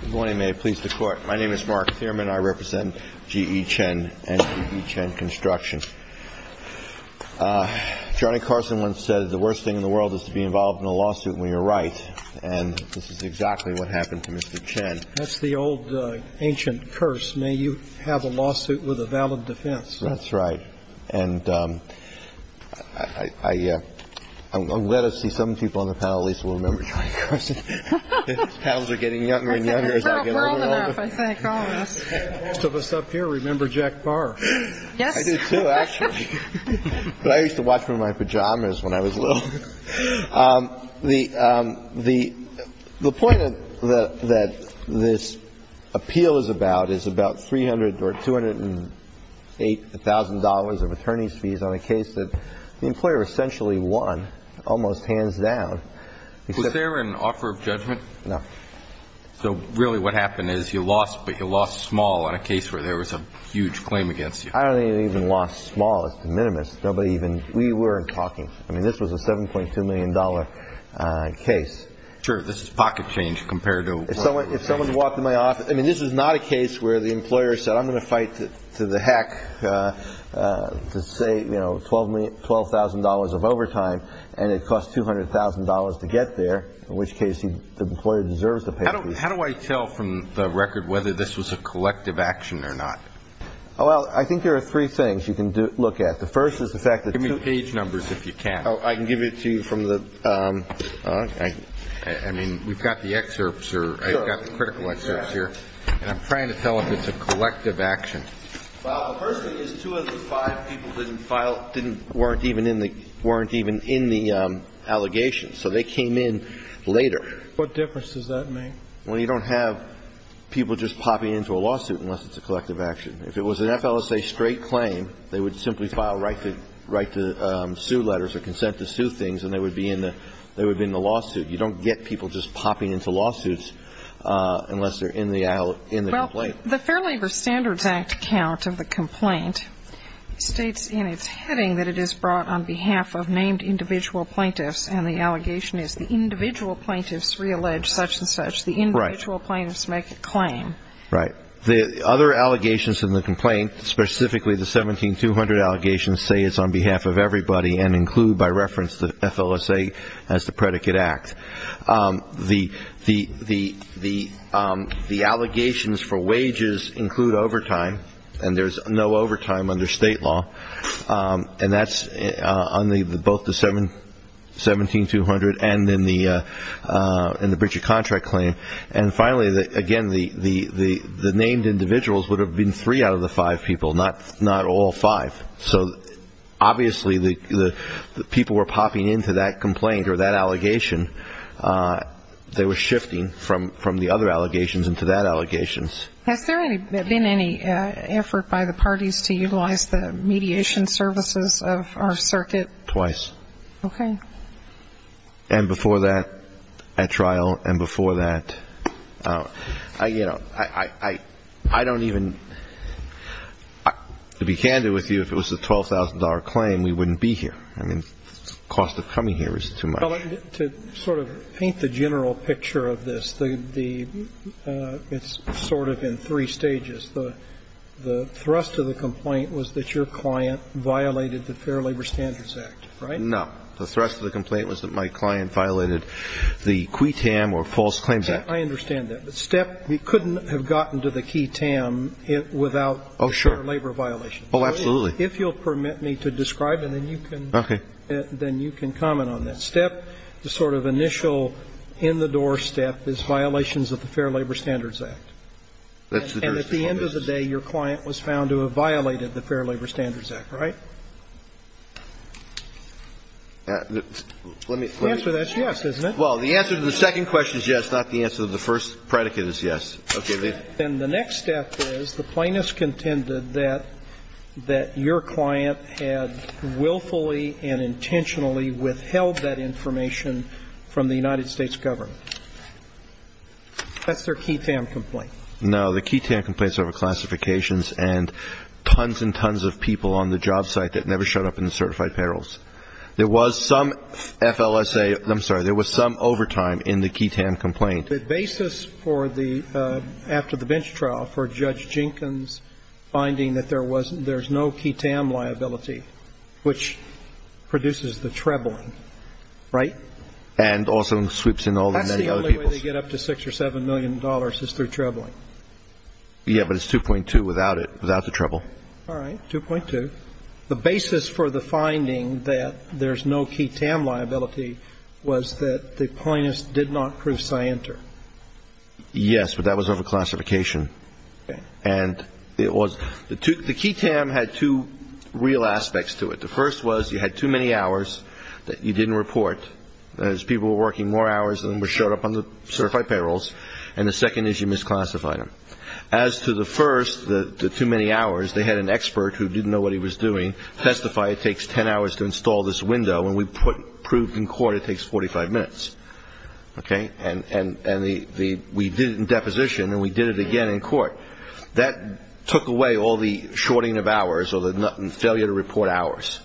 Good morning. May it please the Court. My name is Mark Thierman. I represent G.E. Chen and G.E. Chen Construction. Johnny Carson once said the worst thing in the world is to be involved in a lawsuit when you're right. And this is exactly what happened to Mr. Chen. That's the old ancient curse. May you have a lawsuit with a valid defense. That's right. And I'm glad to see some people on the panel, at least we'll remember Johnny Carson. The panels are getting younger and younger as I get older and older. We're old enough, I think, all of us. Most of us up here remember Jack Barr. Yes. I do, too, actually. I used to watch him in my pajamas when I was little. The point that this appeal is about is about $300,000 or $208,000 of attorney's fees on a case that the employer essentially won almost hands down. Was there an offer of judgment? No. So really what happened is you lost, but you lost small on a case where there was a huge claim against you. I don't think we even lost small. It's de minimis. Nobody even – we weren't talking. I mean, this was a $7.2 million case. Sure. This is pocket change compared to – If someone walked into my office – I mean, this is not a case where the employer said, I'm going to fight to the heck to say, you know, $12,000 of overtime, and it costs $200,000 to get there, in which case the employer deserves the pay. How do I tell from the record whether this was a collective action or not? Well, I think there are three things you can look at. The first is the fact that – Give me page numbers if you can. Oh, I can give it to you from the – I mean, we've got the excerpts, or I've got the critical excerpts here, and I'm trying to tell if it's a collective action. Well, the first thing is two of the five people didn't file – didn't – weren't even in the – weren't even in the allegations. So they came in later. What difference does that make? Well, you don't have people just popping into a lawsuit unless it's a collective action. If it was an FLSA straight claim, they would simply file right to – right to sue letters or consent to sue things, and they would be in the – they would be in the lawsuit. You don't get people just popping into lawsuits unless they're in the – in the complaint. Well, the Fair Labor Standards Act count of the complaint states in its heading that it is brought on behalf of named individual plaintiffs, and the allegation is the individual plaintiffs reallege such and such. The individual plaintiffs make a claim. Right. The other allegations in the complaint, specifically the 17200 allegations, say it's on behalf of everybody and include by reference the FLSA as the predicate act. The allegations for wages include overtime, and there's no overtime under state law, and that's on the – both the 17200 and in the Bridger contract claim. And finally, again, the named individuals would have been three out of the five people, not all five. So obviously the people were popping into that complaint or that allegation, they were shifting from the other allegations into that allegations. Has there been any effort by the parties to utilize the mediation services of our circuit? Twice. Okay. And before that, at trial, and before that, you know, I don't even – To be candid with you, if it was a $12,000 claim, we wouldn't be here. I mean, the cost of coming here is too much. Well, to sort of paint the general picture of this, the – it's sort of in three stages. The thrust of the complaint was that your client violated the Fair Labor Standards Act, right? No. The thrust of the complaint was that my client violated the QE-TAM or False Claims Act. I understand that. The step – you couldn't have gotten to the QE-TAM without the Fair Labor violations. Oh, sure. Oh, absolutely. If you'll permit me to describe it, then you can comment on that. Okay. The sort of initial in-the-door step is violations of the Fair Labor Standards Act. And at the end of the day, your client was found to have violated the Fair Labor Standards Act, right? Let me – The answer to that is yes, isn't it? Well, the answer to the second question is yes, not the answer to the first predicate is yes. Okay. And the next step is the plaintiff contended that your client had willfully and intentionally withheld that information from the United States government. That's their QE-TAM complaint. No. The QE-TAM complaints are over classifications and tons and tons of people on the job site that never showed up in the certified payrolls. There was some FLSA – I'm sorry. There was some overtime in the QE-TAM complaint. The basis for the – after the bench trial for Judge Jenkins' finding that there was – there's no QE-TAM liability, which produces the trebling, right? And also sweeps in all the many other people. That's the only way to get up to $6 or $7 million is through trebling. Yeah, but it's 2.2 without it, without the treble. All right. 2.2. The basis for the finding that there's no QE-TAM liability was that the plaintiff did not prove scienter. Yes, but that was over classification. Okay. And it was – the QE-TAM had two real aspects to it. The first was you had too many hours that you didn't report. As people were working more hours than were showed up on the certified payrolls. And the second is you misclassified them. As to the first, the too many hours, they had an expert who didn't know what he was doing testify it takes 10 hours to install this window. And we proved in court it takes 45 minutes. Okay. And the – we did it in deposition and we did it again in court. That took away all the shorting of hours or the failure to report hours,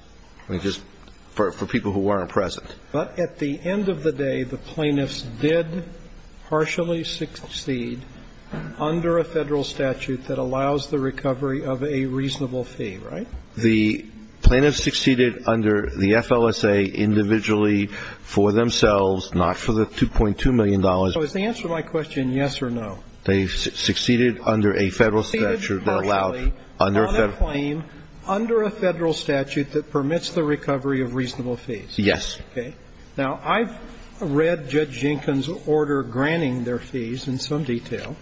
which is for people who weren't present. But at the end of the day, the plaintiffs did partially succeed under a Federal statute that allows the recovery of a reasonable fee, right? The plaintiffs succeeded under the FLSA individually for themselves, not for the $2.2 million. So is the answer to my question yes or no? They succeeded under a Federal statute that allowed under a Federal. Under a Federal statute that permits the recovery of reasonable fees. Okay. Now, I've read Judge Jenkins' order granting their fees in some detail.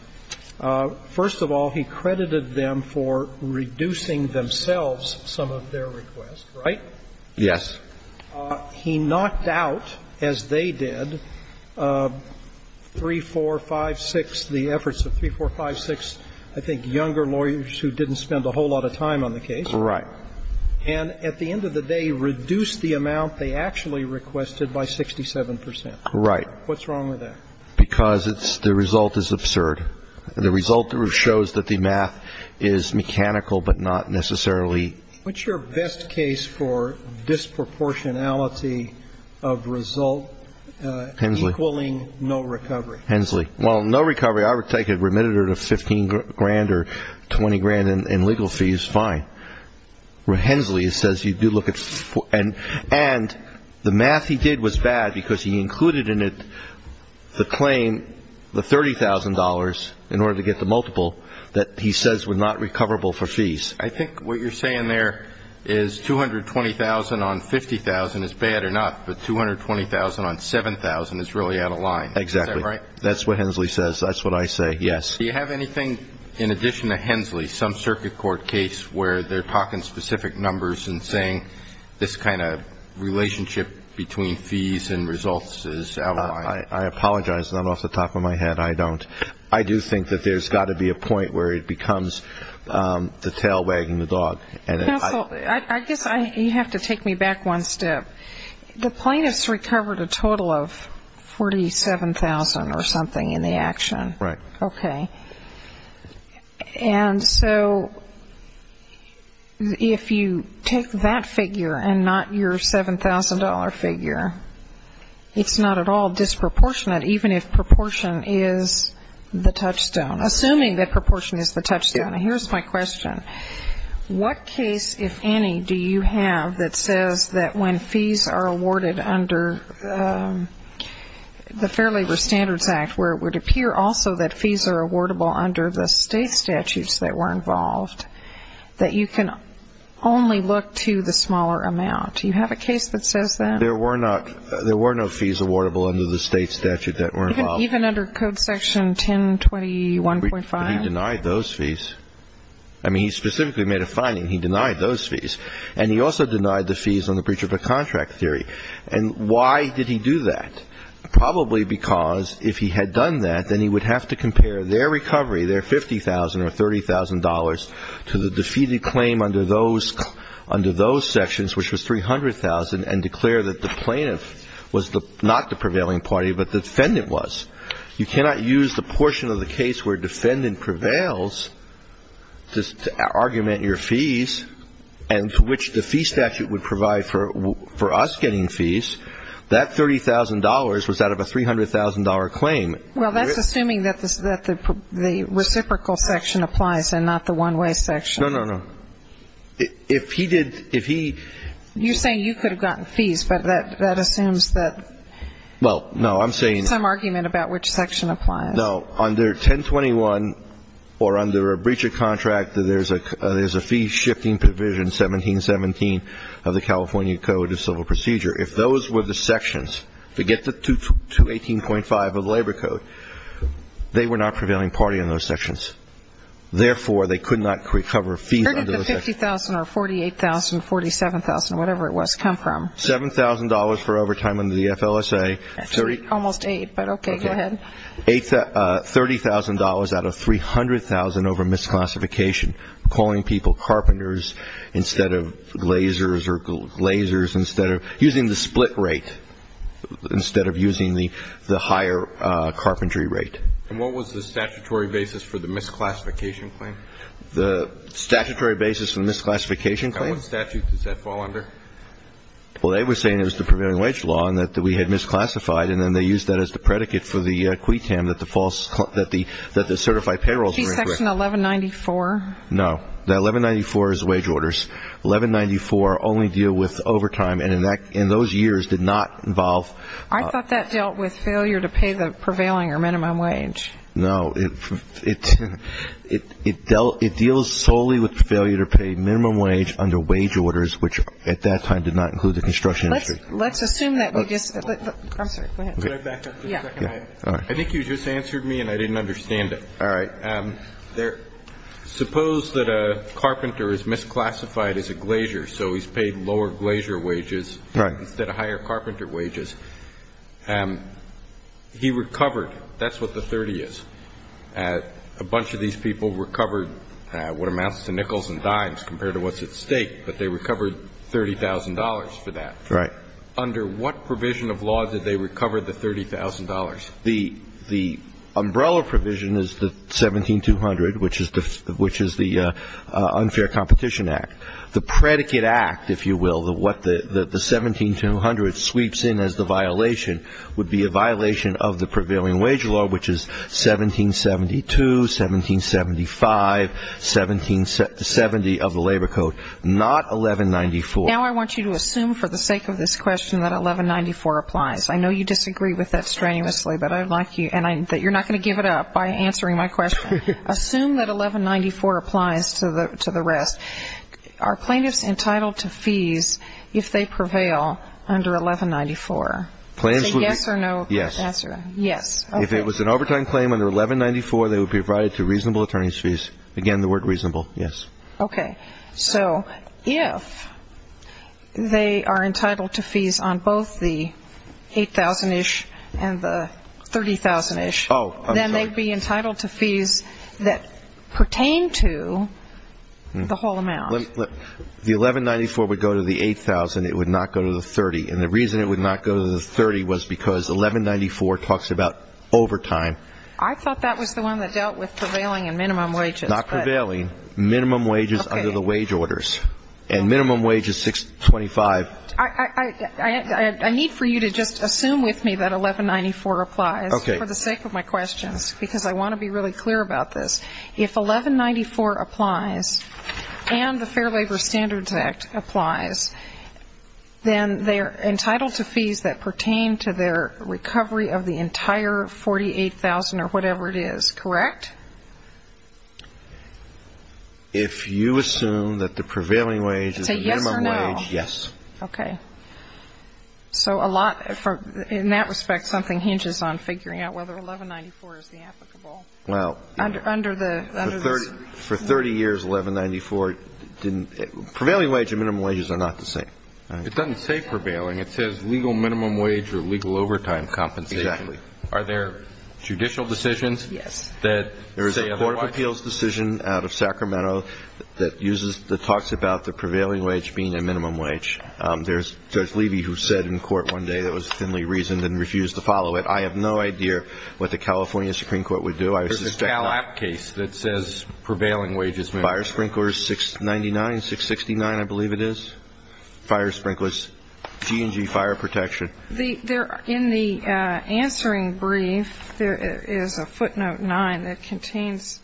First of all, he credited them for reducing themselves some of their requests, right? Yes. He knocked out, as they did, 3, 4, 5, 6, the efforts of 3, 4, 5, 6, I think, younger lawyers who didn't spend a whole lot of time on the case. Right. And at the end of the day, reduced the amount they actually requested by 67%. Right. What's wrong with that? Because it's the result is absurd. The result shows that the math is mechanical, but not necessarily. What's your best case for disproportionality of result equaling no recovery? Hensley. Well, no recovery, I would take a remittance of 15 grand or 20 grand in legal fees, fine. Where Hensley says you do look at, and the math he did was bad because he included in it the claim, the $30,000 in order to get the multiple that he says were not recoverable for fees. I think what you're saying there is 220,000 on 50,000 is bad or not, but 220,000 on 7,000 is really out of line. Exactly. Is that right? That's what Hensley says. That's what I say, yes. Do you have anything in addition to Hensley, some circuit court case where they're talking specific numbers and saying this kind of relationship between fees and results is out of line? I apologize. I'm off the top of my head. I don't. I do think that there's got to be a point where it becomes the tail wagging the dog. Counsel, I guess you have to take me back one step. The plaintiffs recovered a total of 47,000 or something in the action. Right. Okay. And so if you take that figure and not your $7,000 figure, it's not at all disproportionate, even if proportion is the touchstone. Assuming that proportion is the touchstone, here's my question. What case, if any, do you have that says that when fees are awarded under the state statutes that were involved, that you can only look to the smaller amount? Do you have a case that says that? There were no fees awardable under the state statute that were involved. Even under Code Section 1021.5? He denied those fees. I mean, he specifically made a finding. He denied those fees. And he also denied the fees on the breach of a contract theory. And why did he do that? Probably because if he had done that, then he would have to compare their recovery, their $50,000 or $30,000, to the defeated claim under those sections, which was $300,000, and declare that the plaintiff was not the prevailing party, but the defendant was. You cannot use the portion of the case where defendant prevails to argument your fees, and for which the fee statute would provide for us getting fees. That $30,000 was out of a $300,000 claim. Well, that's assuming that the reciprocal section applies and not the one-way section. No, no, no. If he did, if he. You're saying you could have gotten fees, but that assumes that. Well, no, I'm saying. Some argument about which section applies. No. Under 1021, or under a breach of contract, there's a fee-shifting provision, 1717, of the California Code of Civil Procedure. If those were the sections, forget the 218.5 of the Labor Code, they were not prevailing party in those sections. Therefore, they could not recover fees under those sections. Where did the $50,000 or $48,000, $47,000, whatever it was, come from? $7,000 for overtime under the FLSA. Almost $8,000, but okay, go ahead. $30,000 out of $300,000 over misclassification, calling people carpenters instead of lasers, or lasers instead of using the split rate instead of using the higher carpentry rate. And what was the statutory basis for the misclassification claim? The statutory basis for the misclassification claim? And what statute does that fall under? Well, they were saying it was the prevailing wage law and that we had misclassified, and then they used that as the predicate for the CWI-TAM, that the false, that the certified payrolls were incorrect. Section 1194. No. The 1194 is wage orders. 1194 only deal with overtime, and in those years did not involve ---- I thought that dealt with failure to pay the prevailing or minimum wage. No. It deals solely with failure to pay minimum wage under wage orders, which at that time did not include the construction industry. Let's assume that we just ---- I'm sorry, go ahead. Can I back up for a second? Yes. I think you just answered me and I didn't understand it. All right. Suppose that a carpenter is misclassified as a glazier, so he's paid lower glazier wages. Right. Instead of higher carpenter wages. He recovered. That's what the 30 is. A bunch of these people recovered what amounts to nickels and dimes compared to what's at stake, but they recovered $30,000 for that. Right. Under what provision of law did they recover the $30,000? The umbrella provision is the 17200, which is the unfair competition act. The predicate act, if you will, what the 17200 sweeps in as the violation would be a violation of the prevailing wage law, which is 1772, 1775, 1770 of the labor code, not 1194. Now I want you to assume for the sake of this question that 1194 applies. I know you disagree with that strenuously, but I'd like you and you're not going to give it up by answering my question. Assume that 1194 applies to the rest. Are plaintiffs entitled to fees if they prevail under 1194? Yes. Yes. Okay. If it was an overtime claim under 1194, they would be provided to reasonable attorney's fees. Again, the word reasonable, yes. Okay. So if they are entitled to fees on both the 8,000-ish and the 30,000-ish. Oh, I'm sorry. Then they'd be entitled to fees that pertain to the whole amount. The 1194 would go to the 8,000. It would not go to the 30. And the reason it would not go to the 30 was because 1194 talks about overtime. I thought that was the one that dealt with prevailing and minimum wages. Not prevailing. Minimum wages under the wage orders. And minimum wage is 625. I need for you to just assume with me that 1194 applies for the sake of my questions, because I want to be really clear about this. If 1194 applies and the Fair Labor Standards Act applies, then they are entitled to fees that pertain to their recovery of the entire 48,000 or whatever it is, correct? If you assume that the prevailing wage is the minimum wage, yes. Say yes or no. Okay. So a lot, in that respect, something hinges on figuring out whether 1194 is the applicable. Well. For 30 years, 1194 didn't. Prevailing wage and minimum wages are not the same. It doesn't say prevailing. It says legal minimum wage or legal overtime compensation. Exactly. Are there judicial decisions? Yes. There's a court of appeals decision out of Sacramento that uses, that talks about the prevailing wage being a minimum wage. There's Judge Levy who said in court one day that was thinly reasoned and refused to follow it. I have no idea what the California Supreme Court would do. There's a Cal App case that says prevailing wage is minimum. Fire sprinklers, 699, 669, I believe it is. Fire sprinklers. G&G fire protection. In the answering brief, there is a footnote 9 that contains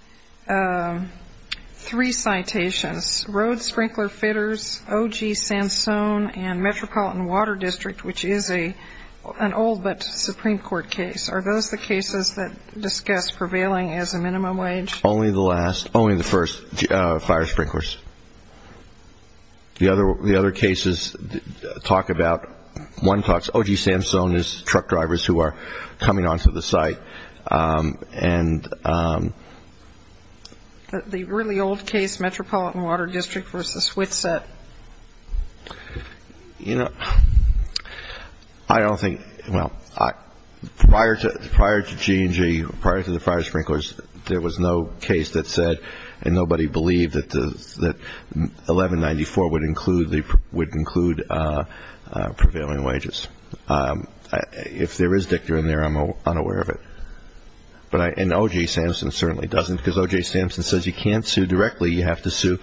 three citations, road sprinkler fitters, OG Sansone, and Metropolitan Water District, which is an old but Supreme Court case. Are those the cases that discuss prevailing as a minimum wage? Only the last. Only the first, fire sprinklers. The other cases talk about, one talks, OG Sansone is truck drivers who are coming onto the site. The really old case, Metropolitan Water District versus Witset. You know, I don't think, well, prior to G&G, prior to the fire sprinklers, there was no case that said, and nobody believed, that 1194 would include prevailing wages. If there is dicta in there, I'm unaware of it. And OG Sansone certainly doesn't, because OG Sansone says you can't sue directly. You have to sue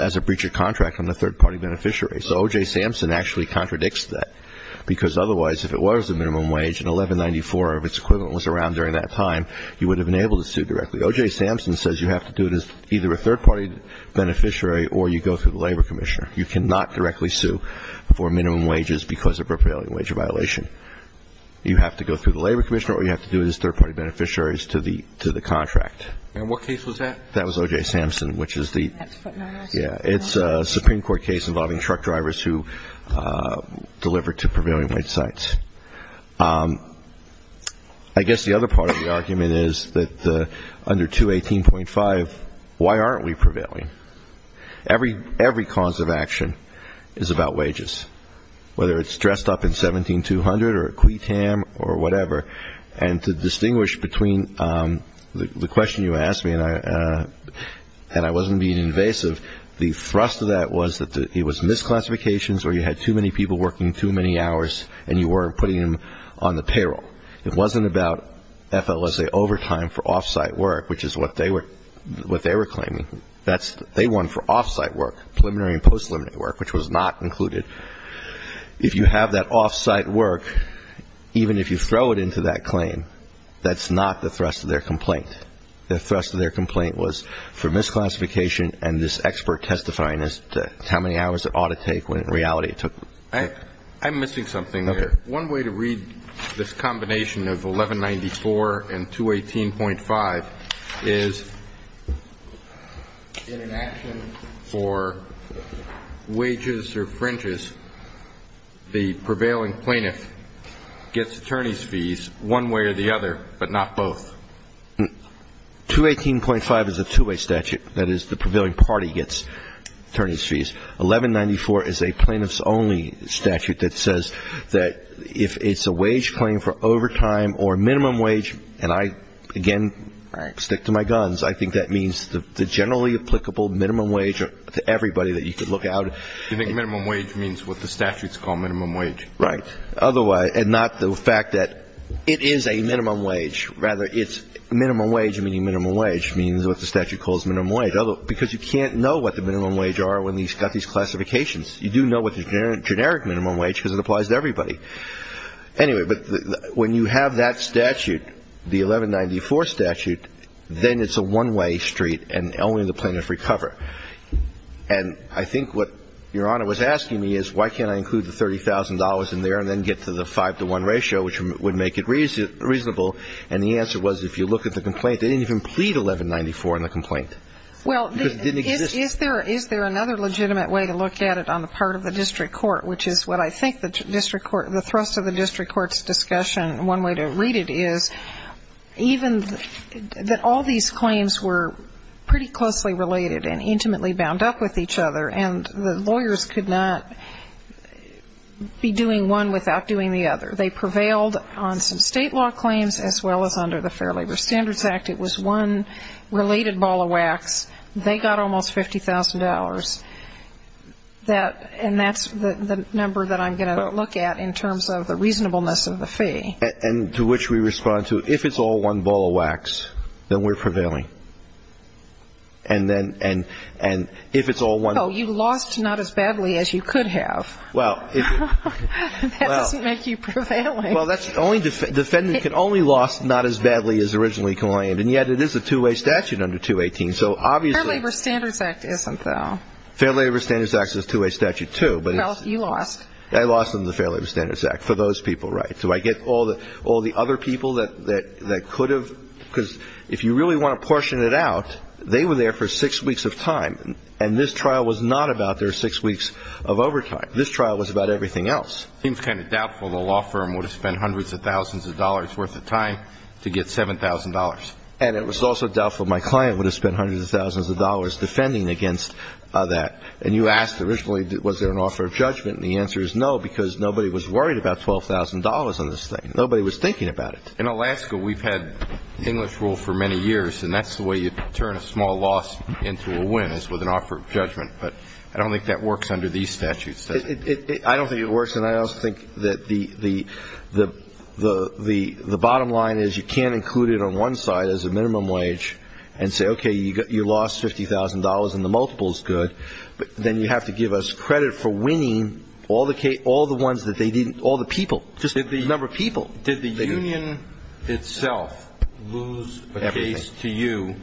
as a breach of contract on a third-party beneficiary. So OG Sansone actually contradicts that, because otherwise, if it was a minimum wage and 1194 of its equivalent was around during that time, you would have been able to sue directly. OG Sansone says you have to do it as either a third-party beneficiary or you go through the labor commissioner. You cannot directly sue for minimum wages because of prevailing wage violation. You have to go through the labor commissioner or you have to do it as third-party beneficiaries to the contract. And what case was that? That was OG Sansone, which is the – That's footnotice. Yeah, it's a Supreme Court case involving truck drivers who delivered to prevailing wage sites. I guess the other part of the argument is that under 218.5, why aren't we prevailing? Every cause of action is about wages, whether it's dressed up in 17200 or a qui tam or whatever. And to distinguish between the question you asked me, and I wasn't being invasive, the thrust of that was that it was misclassifications where you had too many people working too many hours and you weren't putting them on the payroll. It wasn't about FLSA overtime for off-site work, which is what they were claiming. They won for off-site work, preliminary and post-preliminary work, which was not included. If you have that off-site work, even if you throw it into that claim, that's not the thrust of their complaint. The thrust of their complaint was for misclassification and this expert testifying as to how many hours it ought to take when in reality it took. I'm missing something there. Okay. One way to read this combination of 1194 and 218.5 is in an action for wages or fringes, the prevailing plaintiff gets attorney's fees one way or the other, but not both. 218.5 is a two-way statute. That is, the prevailing party gets attorney's fees. 1194 is a plaintiff's only statute that says that if it's a wage claim for overtime or minimum wage, and I, again, stick to my guns, I think that means the generally applicable minimum wage to everybody that you could look at. You think minimum wage means what the statutes call minimum wage? Right. And not the fact that it is a minimum wage. Rather, it's minimum wage, meaning minimum wage, means what the statute calls minimum wage. Because you can't know what the minimum wage are when you've got these classifications. You do know what the generic minimum wage is because it applies to everybody. Anyway, but when you have that statute, the 1194 statute, then it's a one-way street and only the plaintiff recover. And I think what Your Honor was asking me is why can't I include the $30,000 in there and then get to the five-to-one ratio, which would make it reasonable, and the answer was if you look at the complaint, they didn't even plead 1194 in the complaint. Well, is there another legitimate way to look at it on the part of the district court, which is what I think the thrust of the district court's discussion, one way to read it, is even that all these claims were pretty closely related and intimately bound up with each other, and the lawyers could not be doing one without doing the other. They prevailed on some state law claims as well as under the Fair Labor Standards Act. It was one related ball of wax. They got almost $50,000. And that's the number that I'm going to look at in terms of the reasonableness of the fee. And to which we respond to if it's all one ball of wax, then we're prevailing. And if it's all one ball of wax. Oh, you lost not as badly as you could have. That doesn't make you prevailing. Well, the defendant can only loss not as badly as originally claimed. And yet it is a two-way statute under 218. Fair Labor Standards Act isn't, though. Fair Labor Standards Act is a two-way statute, too. Well, you lost. I lost in the Fair Labor Standards Act for those people, right. So I get all the other people that could have, because if you really want to portion it out, they were there for six weeks of time, and this trial was not about their six weeks of overtime. This trial was about everything else. It seems kind of doubtful the law firm would have spent hundreds of thousands of dollars worth of time to get $7,000. And it was also doubtful my client would have spent hundreds of thousands of dollars defending against that. And you asked originally was there an offer of judgment, and the answer is no, because nobody was worried about $12,000 on this thing. Nobody was thinking about it. In Alaska, we've had English rule for many years, and that's the way you turn a small loss into a win is with an offer of judgment. But I don't think that works under these statutes. I don't think it works, and I also think that the bottom line is you can't include it on one side as a minimum wage and say, okay, you lost $50,000, and the multiple is good. But then you have to give us credit for winning all the ones that they didn't, all the people, just the number of people. Did the union itself lose a case to you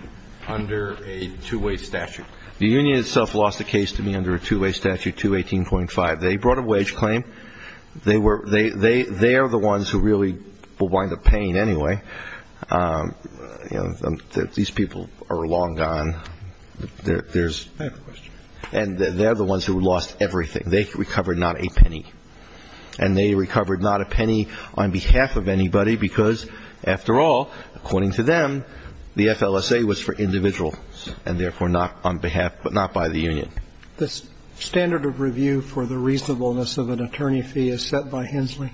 under a two-way statute? The union itself lost a case to me under a two-way statute, 218.5. They brought a wage claim. They are the ones who really will wind up paying anyway. These people are long gone. And they're the ones who lost everything. They recovered not a penny, and they recovered not a penny on behalf of anybody because, after all, according to them, the FLSA was for individuals and therefore not on behalf, but not by the union. The standard of review for the reasonableness of an attorney fee is set by Hensley?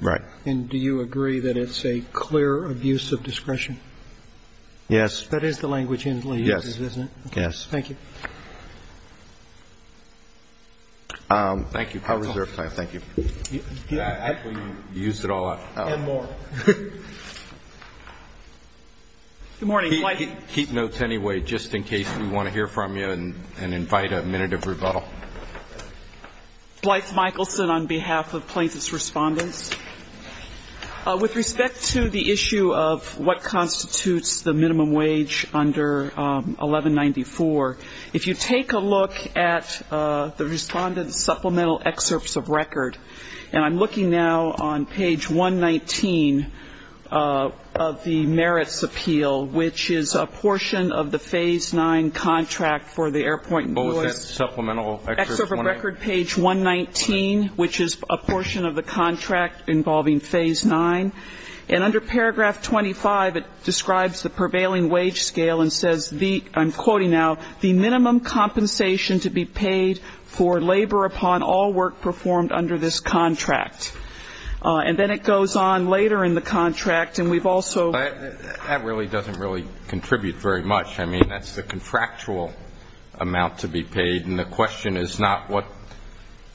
Right. And do you agree that it's a clear abuse of discretion? Yes. That is the language Hensley uses, isn't it? Yes. Thank you. Thank you. I'll reserve time. Thank you. Actually, you used it all up. And more. Good morning. Keep notes anyway just in case we want to hear from you and invite a minute of rebuttal. Blythe Michelson on behalf of plaintiff's respondents. With respect to the issue of what constitutes the minimum wage under 1194, if you take a look at the respondent's supplemental excerpts of record, and I'm looking now on page 119 of the merits appeal, which is a portion of the phase nine contract for the airport. What was that supplemental excerpt? Excerpt of record page 119, which is a portion of the contract involving phase nine. And under paragraph 25, it describes the prevailing wage scale and says, I'm quoting now, the minimum compensation to be paid for labor upon all work performed under this contract. And then it goes on later in the contract, and we've also ---- That really doesn't really contribute very much. I mean, that's the contractual amount to be paid, and the question is not what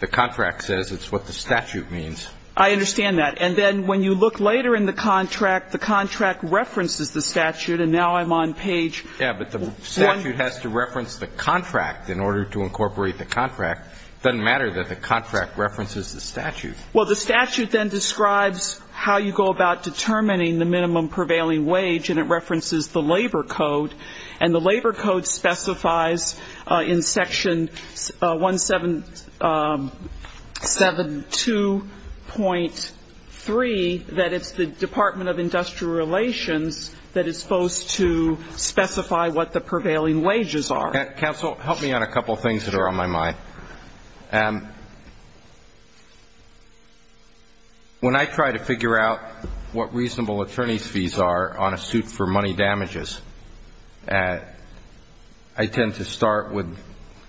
the contract says, it's what the statute means. I understand that. And then when you look later in the contract, the contract references the statute, and now I'm on page ---- Yeah, but the statute has to reference the contract in order to incorporate the contract. It doesn't matter that the contract references the statute. Well, the statute then describes how you go about determining the minimum prevailing wage, and it references the labor code. And the labor code specifies in section 172.3 that it's the Department of Industrial Relations that is supposed to specify what the prevailing wages are. Counsel, help me on a couple of things that are on my mind. When I try to figure out what reasonable attorney's fees are on a suit for money damages, I tend to start with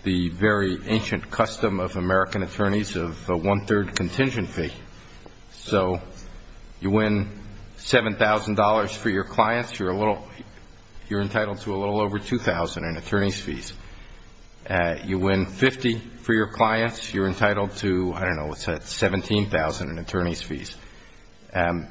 the very ancient custom of American attorneys of a one-third contingent fee. So you win $7,000 for your clients. You're entitled to a little over $2,000 in attorney's fees. You win $50,000 for your clients. You're entitled to, I don't know, what's that, $17,000 in attorney's fees. In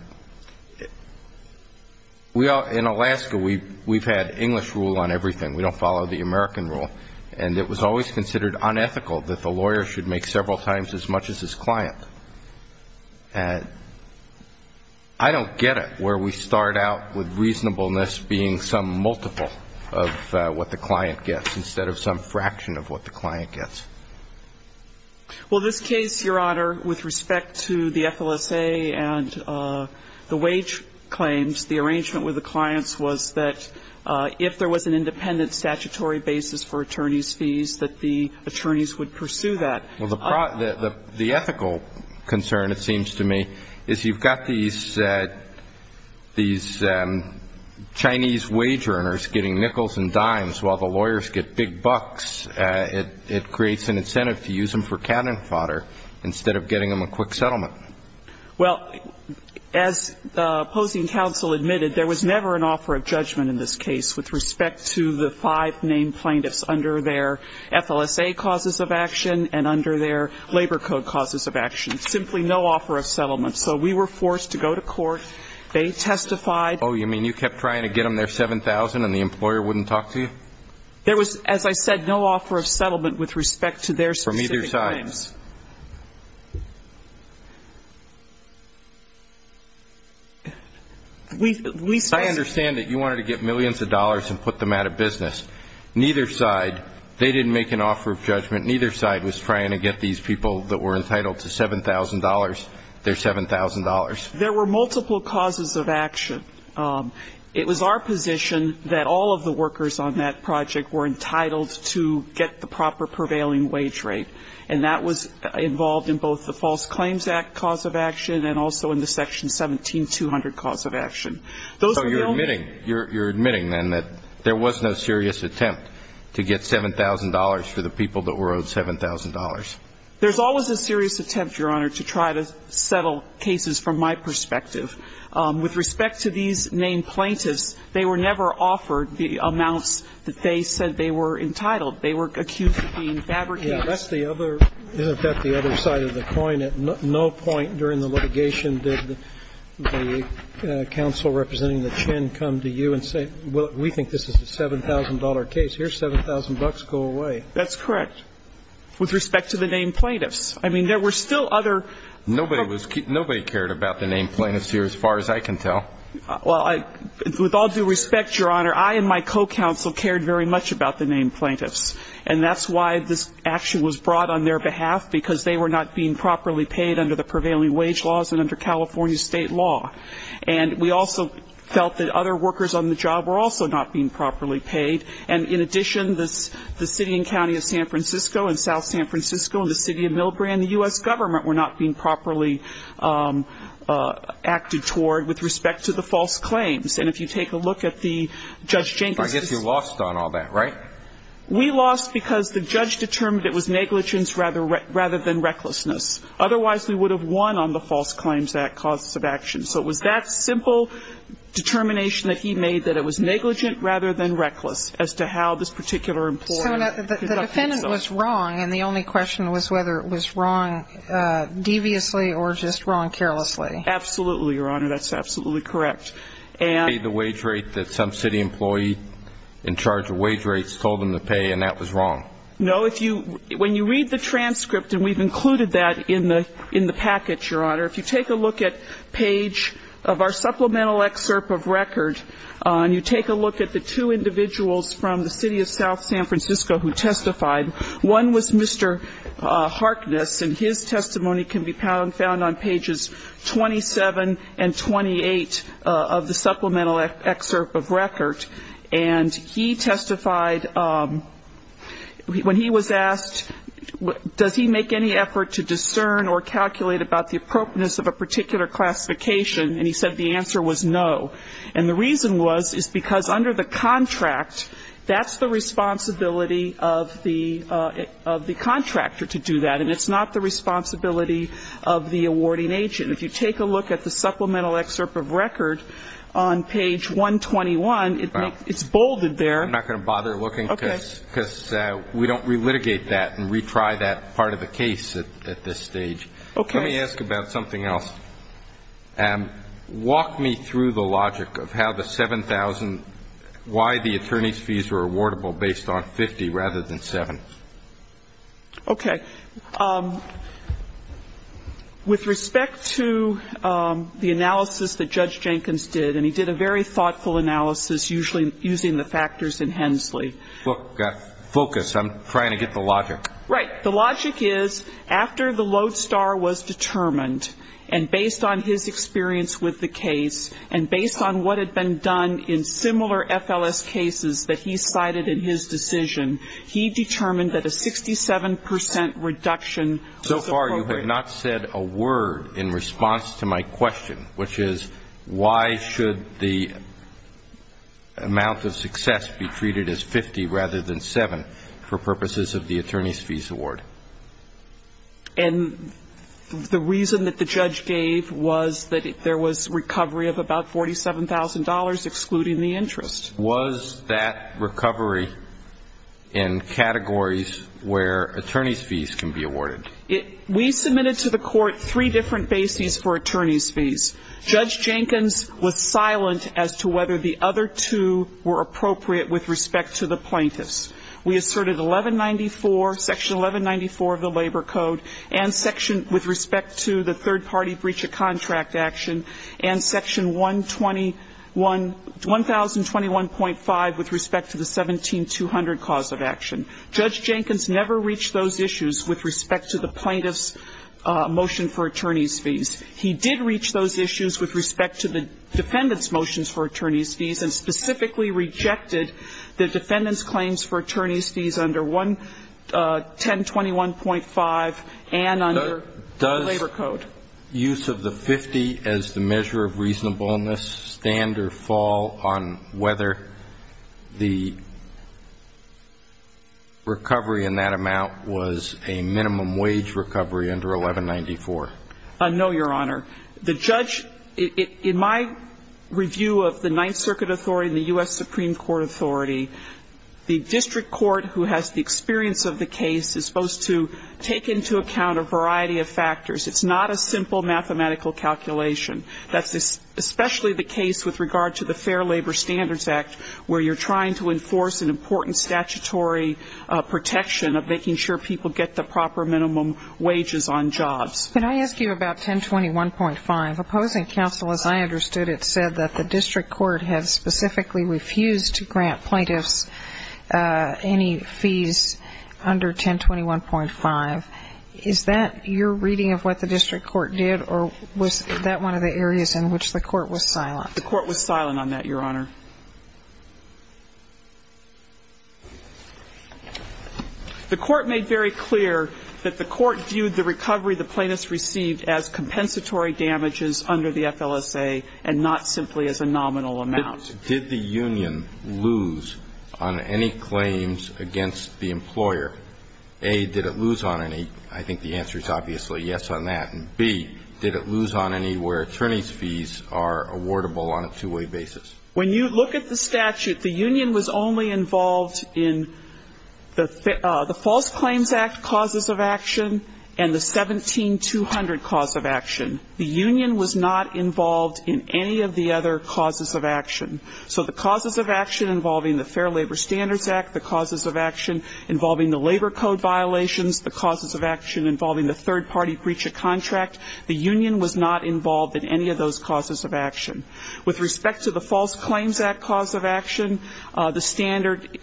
Alaska, we've had English rule on everything. We don't follow the American rule. And it was always considered unethical that the lawyer should make several times as much as his client. I don't get it where we start out with reasonableness being some multiple of what the client gets instead of some fraction of what the client gets. Well, this case, Your Honor, with respect to the FLSA and the wage claims, the arrangement with the clients was that if there was an independent statutory basis for attorney's fees, that the attorneys would pursue that. Well, the ethical concern, it seems to me, is you've got these Chinese wage earners getting nickels and dimes while the lawyers get big bucks. It creates an incentive to use them for cannon fodder instead of getting them a quick settlement. Well, as the opposing counsel admitted, there was never an offer of judgment in this case with respect to the five named plaintiffs under their FLSA causes of action and under their labor code causes of action. Simply no offer of settlement. So we were forced to go to court. They testified. Oh, you mean you kept trying to get them their 7,000 and the employer wouldn't talk to you? There was, as I said, no offer of settlement with respect to their specific claims. I understand that you wanted to get millions of dollars and put them out of business. Neither side, they didn't make an offer of judgment. Neither side was trying to get these people that were entitled to $7,000 their $7,000. There were multiple causes of action. It was our position that all of the workers on that project were entitled to get the proper prevailing wage rate, and that was involved in both the False Claims Act cause of action and also in the Section 17200 cause of action. So you're admitting then that there was no serious attempt to get $7,000 for the people that were owed $7,000? There's always a serious attempt, Your Honor, to try to settle cases from my perspective. With respect to these named plaintiffs, they were never offered the amounts that they said they were entitled. They were accused of being fabricants. Isn't that the other side of the coin? At no point during the litigation did the counsel representing the chin come to you and say, well, we think this is a $7,000 case. Here's $7,000. Go away. That's correct. With respect to the named plaintiffs. I mean, there were still other. Nobody cared about the named plaintiffs here as far as I can tell. Well, with all due respect, Your Honor, I and my co-counsel cared very much about the named plaintiffs, and that's why this action was brought on their behalf, because they were not being properly paid under the prevailing wage laws and under California state law. And we also felt that other workers on the job were also not being properly paid. And in addition, the city and county of San Francisco and South San Francisco and the city of Millbrae and the U.S. government were not being properly acted toward with respect to the false claims. And if you take a look at the Judge Jenkins case. I guess you lost on all that, right? We lost because the judge determined it was negligence rather than recklessness. Otherwise, we would have won on the False Claims Act causes of action. So it was that simple determination that he made, that it was negligent rather than reckless, as to how this particular employer conducted itself. So the defendant was wrong, and the only question was whether it was wrong deviously or just wrong carelessly. Absolutely, Your Honor. That's absolutely correct. The wage rate that some city employee in charge of wage rates told them to pay, and that was wrong. No. When you read the transcript, and we've included that in the package, Your Honor, if you take a look at page of our supplemental excerpt of record, and you take a look at the two individuals from the city of South San Francisco who testified, one was Mr. Harkness, and his testimony can be found on pages 27 and 28 of the supplemental excerpt of record. And he testified, when he was asked, does he make any effort to discern or calculate about the appropriateness of a particular classification, and he said the answer was no. And the reason was, is because under the contract, that's the responsibility of the contractor to do that, and it's not the responsibility of the awarding agent. If you take a look at the supplemental excerpt of record on page 121, it's bolded there. I'm not going to bother looking, because we don't relitigate that and retry that part of the case at this stage. Okay. Let me ask about something else. Walk me through the logic of how the 7,000, why the attorney's fees were awardable based on 50 rather than 7. Okay. With respect to the analysis that Judge Jenkins did, and he did a very thoughtful analysis, usually using the factors in Hensley. Focus. I'm trying to get the logic. Right. The logic is, after the lodestar was determined, and based on his experience with the case, and based on what had been done in similar FLS cases that he cited in his decision, he determined that a 67 percent reduction was appropriate. So far you have not said a word in response to my question, which is, why should the amount of success be treated as 50 rather than 7 for purposes of the attorney's fees award? And the reason that the judge gave was that there was recovery of about $47,000, excluding the interest. Was that recovery in categories where attorney's fees can be awarded? We submitted to the court three different bases for attorney's fees. Judge Jenkins was silent as to whether the other two were appropriate with respect to the plaintiffs. We asserted 1194, section 1194 of the Labor Code, and section with respect to the third-party breach of contract action, and section 1021.5 with respect to the 17200 cause of action. Judge Jenkins never reached those issues with respect to the plaintiff's motion for attorney's fees. He did reach those issues with respect to the defendant's motions for attorney's fees and specifically rejected the defendant's claims for attorney's fees under 1021.5 and under the Labor Code. Does use of the 50 as the measure of reasonableness stand or fall on whether the recovery in that amount was a minimum wage recovery under 1194? No, Your Honor. The judge, in my review of the Ninth Circuit Authority and the U.S. Supreme Court Authority, the district court who has the experience of the case is supposed to take into account a variety of factors. It's not a simple mathematical calculation. That's especially the case with regard to the Fair Labor Standards Act, where you're trying to enforce an important statutory protection of making sure people get the proper minimum wages on jobs. Can I ask you about 1021.5? Opposing counsel, as I understood it, said that the district court had specifically refused to grant plaintiffs any fees under 1021.5. Is that your reading of what the district court did, or was that one of the areas in which the court was silent? The court was silent on that, Your Honor. The court made very clear that the court viewed the recovery the plaintiffs received as compensatory damages under the FLSA and not simply as a nominal amount. Did the union lose on any claims against the employer? A, did it lose on any? I think the answer is obviously yes on that. And B, did it lose on any where attorney's fees are awardable on a two-way basis? When you look at the statute, the union was only involved in the False Claims Act causes of action and the 17200 cause of action. The union was not involved in any of the other causes of action. So the causes of action involving the Fair Labor Standards Act, the causes of action involving the labor code violations, the causes of action involving the third-party breach of contract, the union was not involved in any of those causes of action. With respect to the False Claims Act cause of action, the standard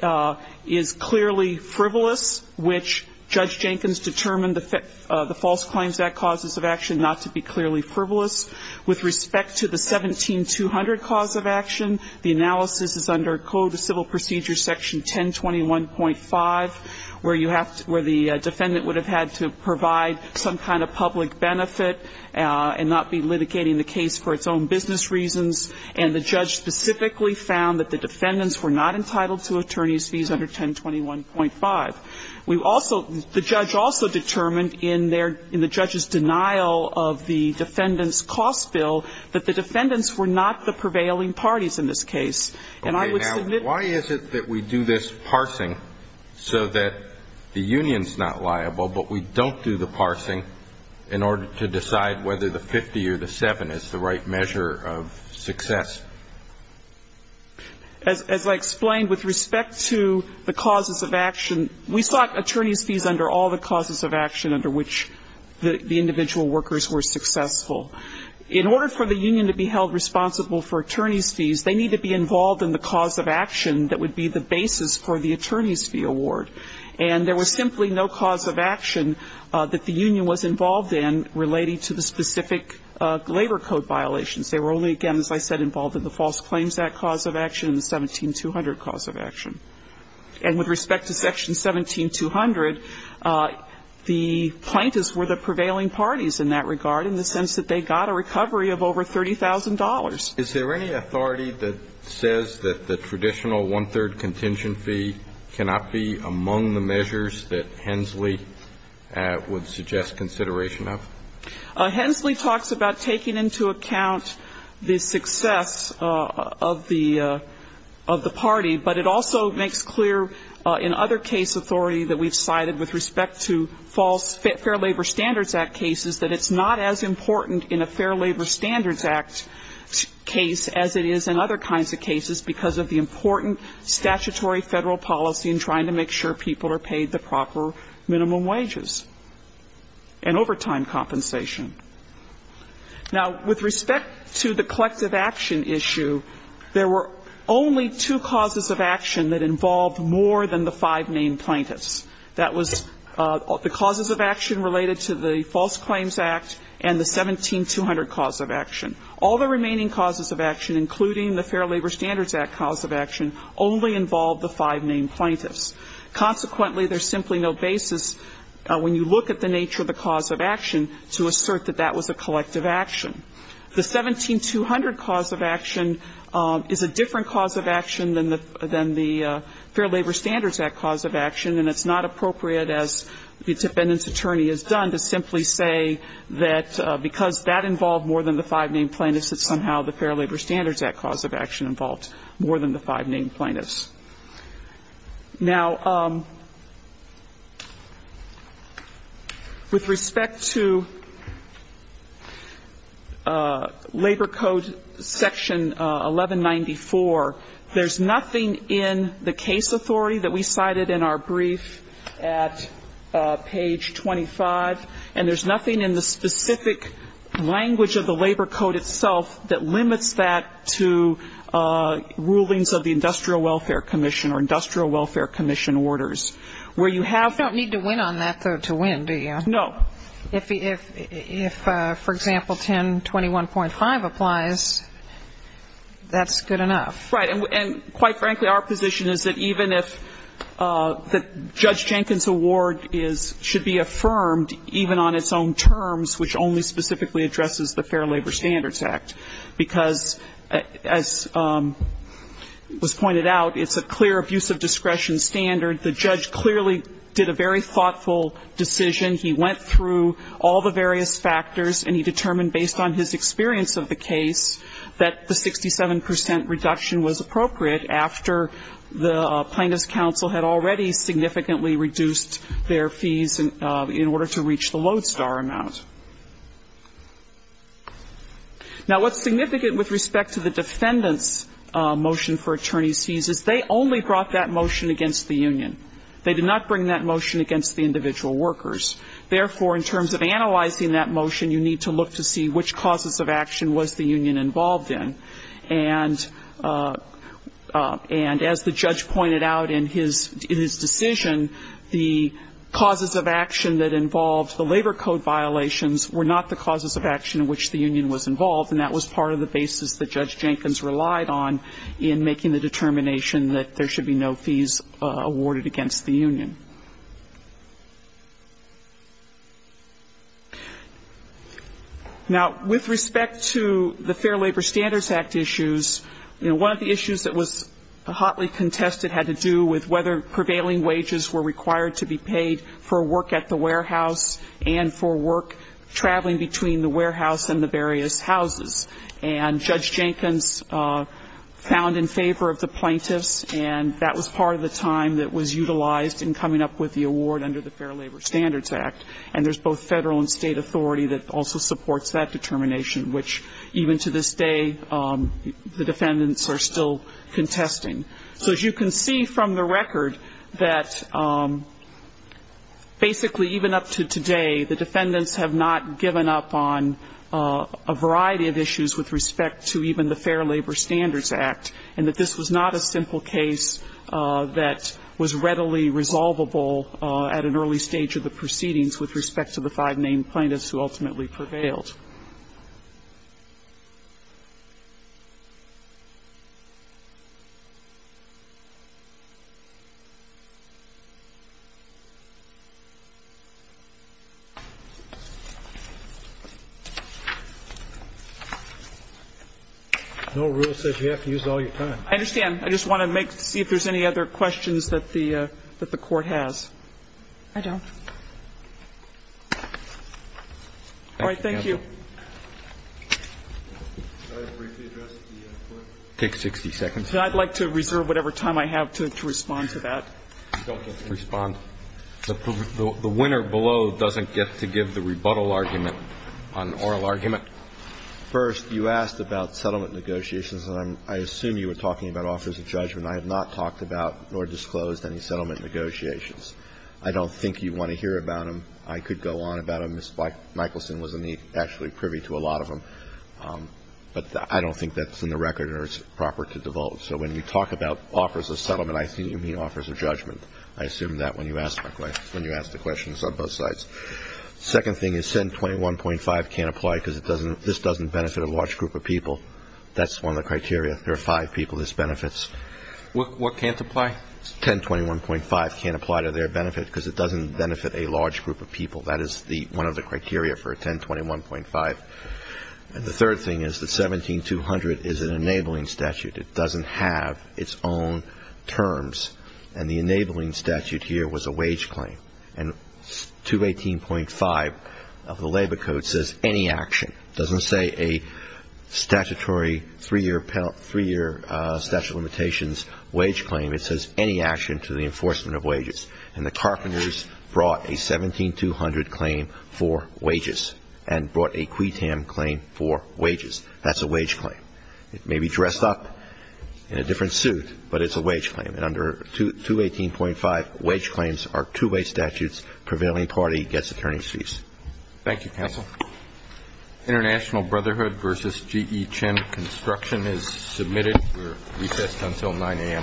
is clearly frivolous, which Judge Jenkins determined the False Claims Act causes of action not to be clearly frivolous. With respect to the 17200 cause of action, the analysis is under Code of Civil Procedure, Section 1021.5, where you have to – where the defendant would have had to provide some kind of public benefit and not be litigating the case for its own business reasons. And the judge specifically found that the defendants were not entitled to attorney's fees under 1021.5. We also – the judge also determined in their – in the judge's denial of the defendant's cost bill that the defendants were not the prevailing parties in this case. And I would submit – Okay. Now, why is it that we do this parsing so that the union's not liable, but we don't do the parsing in order to decide whether the 50 or the 7 is the right measure of success? As I explained, with respect to the causes of action, we sought attorney's fees under all the causes of action under which the individual workers were successful. In order for the union to be held responsible for attorney's fees, they need to be involved in the cause of action that would be the basis for the attorney's fee award. And there was simply no cause of action that the union was involved in relating to the specific labor code violations. They were only, again, as I said, involved in the False Claims Act cause of action and the 17200 cause of action. And with respect to Section 17200, the plaintiffs were the prevailing parties in that case, and they got a recovery of over $30,000. Is there any authority that says that the traditional one-third contingent fee cannot be among the measures that Hensley would suggest consideration of? Hensley talks about taking into account the success of the party, but it also makes clear in other case authority that we've cited with respect to False Fair Labor Standards Act cases that it's not as important in a Fair Labor Standards Act case as it is in other kinds of cases because of the important statutory Federal policy in trying to make sure people are paid the proper minimum wages and overtime compensation. Now, with respect to the collective action issue, there were only two causes of action that involved more than the five main plaintiffs. That was the causes of action related to the False Claims Act and the 17200 cause of action. All the remaining causes of action, including the Fair Labor Standards Act cause of action, only involved the five main plaintiffs. Consequently, there's simply no basis when you look at the nature of the cause of action to assert that that was a collective action. The 17200 cause of action is a different cause of action than the Fair Labor Standards Act cause of action, and it's not appropriate, as the defendant's attorney has done, to simply say that because that involved more than the five main plaintiffs, that somehow the Fair Labor Standards Act cause of action involved more than the five main plaintiffs. Now, with respect to Labor Code Section 1194, there's nothing in the case authority that we cited in our brief at page 25, and there's nothing in the specific language of the Labor Code itself that limits that to rulings of the Industrial Welfare Commission or Industrial Welfare Commission orders. Where you have to win on that, though, to win, do you? No. If, for example, 1021.5 applies, that's good enough. Right. And quite frankly, our position is that even if Judge Jenkins' award should be affirmed, even on its own terms, which only specifically addresses the Fair Labor Standards Act, because as was pointed out, it's a clear abuse of discretion standard. The judge clearly did a very thoughtful decision. He went through all the various factors, and he determined based on his experience of the case that the 67 percent reduction was appropriate after the plaintiff's counsel had already significantly reduced their fees in order to reach the Lodestar amount. Now, what's significant with respect to the defendant's motion for attorney's fees is they only brought that motion against the union. They did not bring that motion against the individual workers. Therefore, in terms of analyzing that motion, you need to look to see which causes of action was the union involved in. And as the judge pointed out in his decision, the causes of action that involved the labor code violations were not the causes of action in which the union was involved, and that was part of the basis that Judge Jenkins relied on in making the determination that there should be no fees awarded against the union. Now, with respect to the Fair Labor Standards Act issues, one of the issues that was hotly contested had to do with whether prevailing wages were required to be paid for work at the warehouse and for work traveling between the warehouse and the various houses. And Judge Jenkins found in favor of the plaintiffs, and that was part of the time that was utilized in coming up with the award under the Fair Labor Standards Act. And there's both federal and state authority that also supports that determination, which even to this day the defendants are still contesting. So as you can see from the record that basically even up to today the defendants have not given up on a variety of issues with respect to even the Fair Labor Standards Act, and that this was not a simple case that was readily resolvable at an early stage of the proceedings with respect to the five named plaintiffs who ultimately prevailed. Thank you. I'd like to reserve whatever time I have to respond to that. You don't get to respond. The winner below doesn't get to give the rebuttal argument on oral argument. First, you asked about settlement negotiations. I assume you were talking about offers of judgment. I have not talked about nor disclosed any settlement negotiations. I don't think you want to hear about them. I could go on about them. Mike Michelson was actually privy to a lot of them. But I don't think that's in the record or it's proper to divulge. So when we talk about offers of settlement, I assume you mean offers of judgment. I assume that when you ask the questions on both sides. Second thing is 1021.5 can't apply because this doesn't benefit a large group of people. That's one of the criteria. There are five people this benefits. What can't apply? 1021.5 can't apply to their benefit because it doesn't benefit a large group of people. That is one of the criteria for 1021.5. And the third thing is that 17200 is an enabling statute. It doesn't have its own terms. And the enabling statute here was a wage claim. And 218.5 of the Labor Code says any action. It doesn't say a statutory three-year statute of limitations wage claim. It says any action to the enforcement of wages. And the carpenters brought a 17200 claim for wages and brought a QUETAM claim for wages. That's a wage claim. It may be dressed up in a different suit, but it's a wage claim. And under 218.5, wage claims are two-way statutes. Prevailing party gets attorney's fees. Thank you, counsel. International Brotherhood v. G.E. Chin Construction is submitted. We're recessed until 9 a.m. Thank you.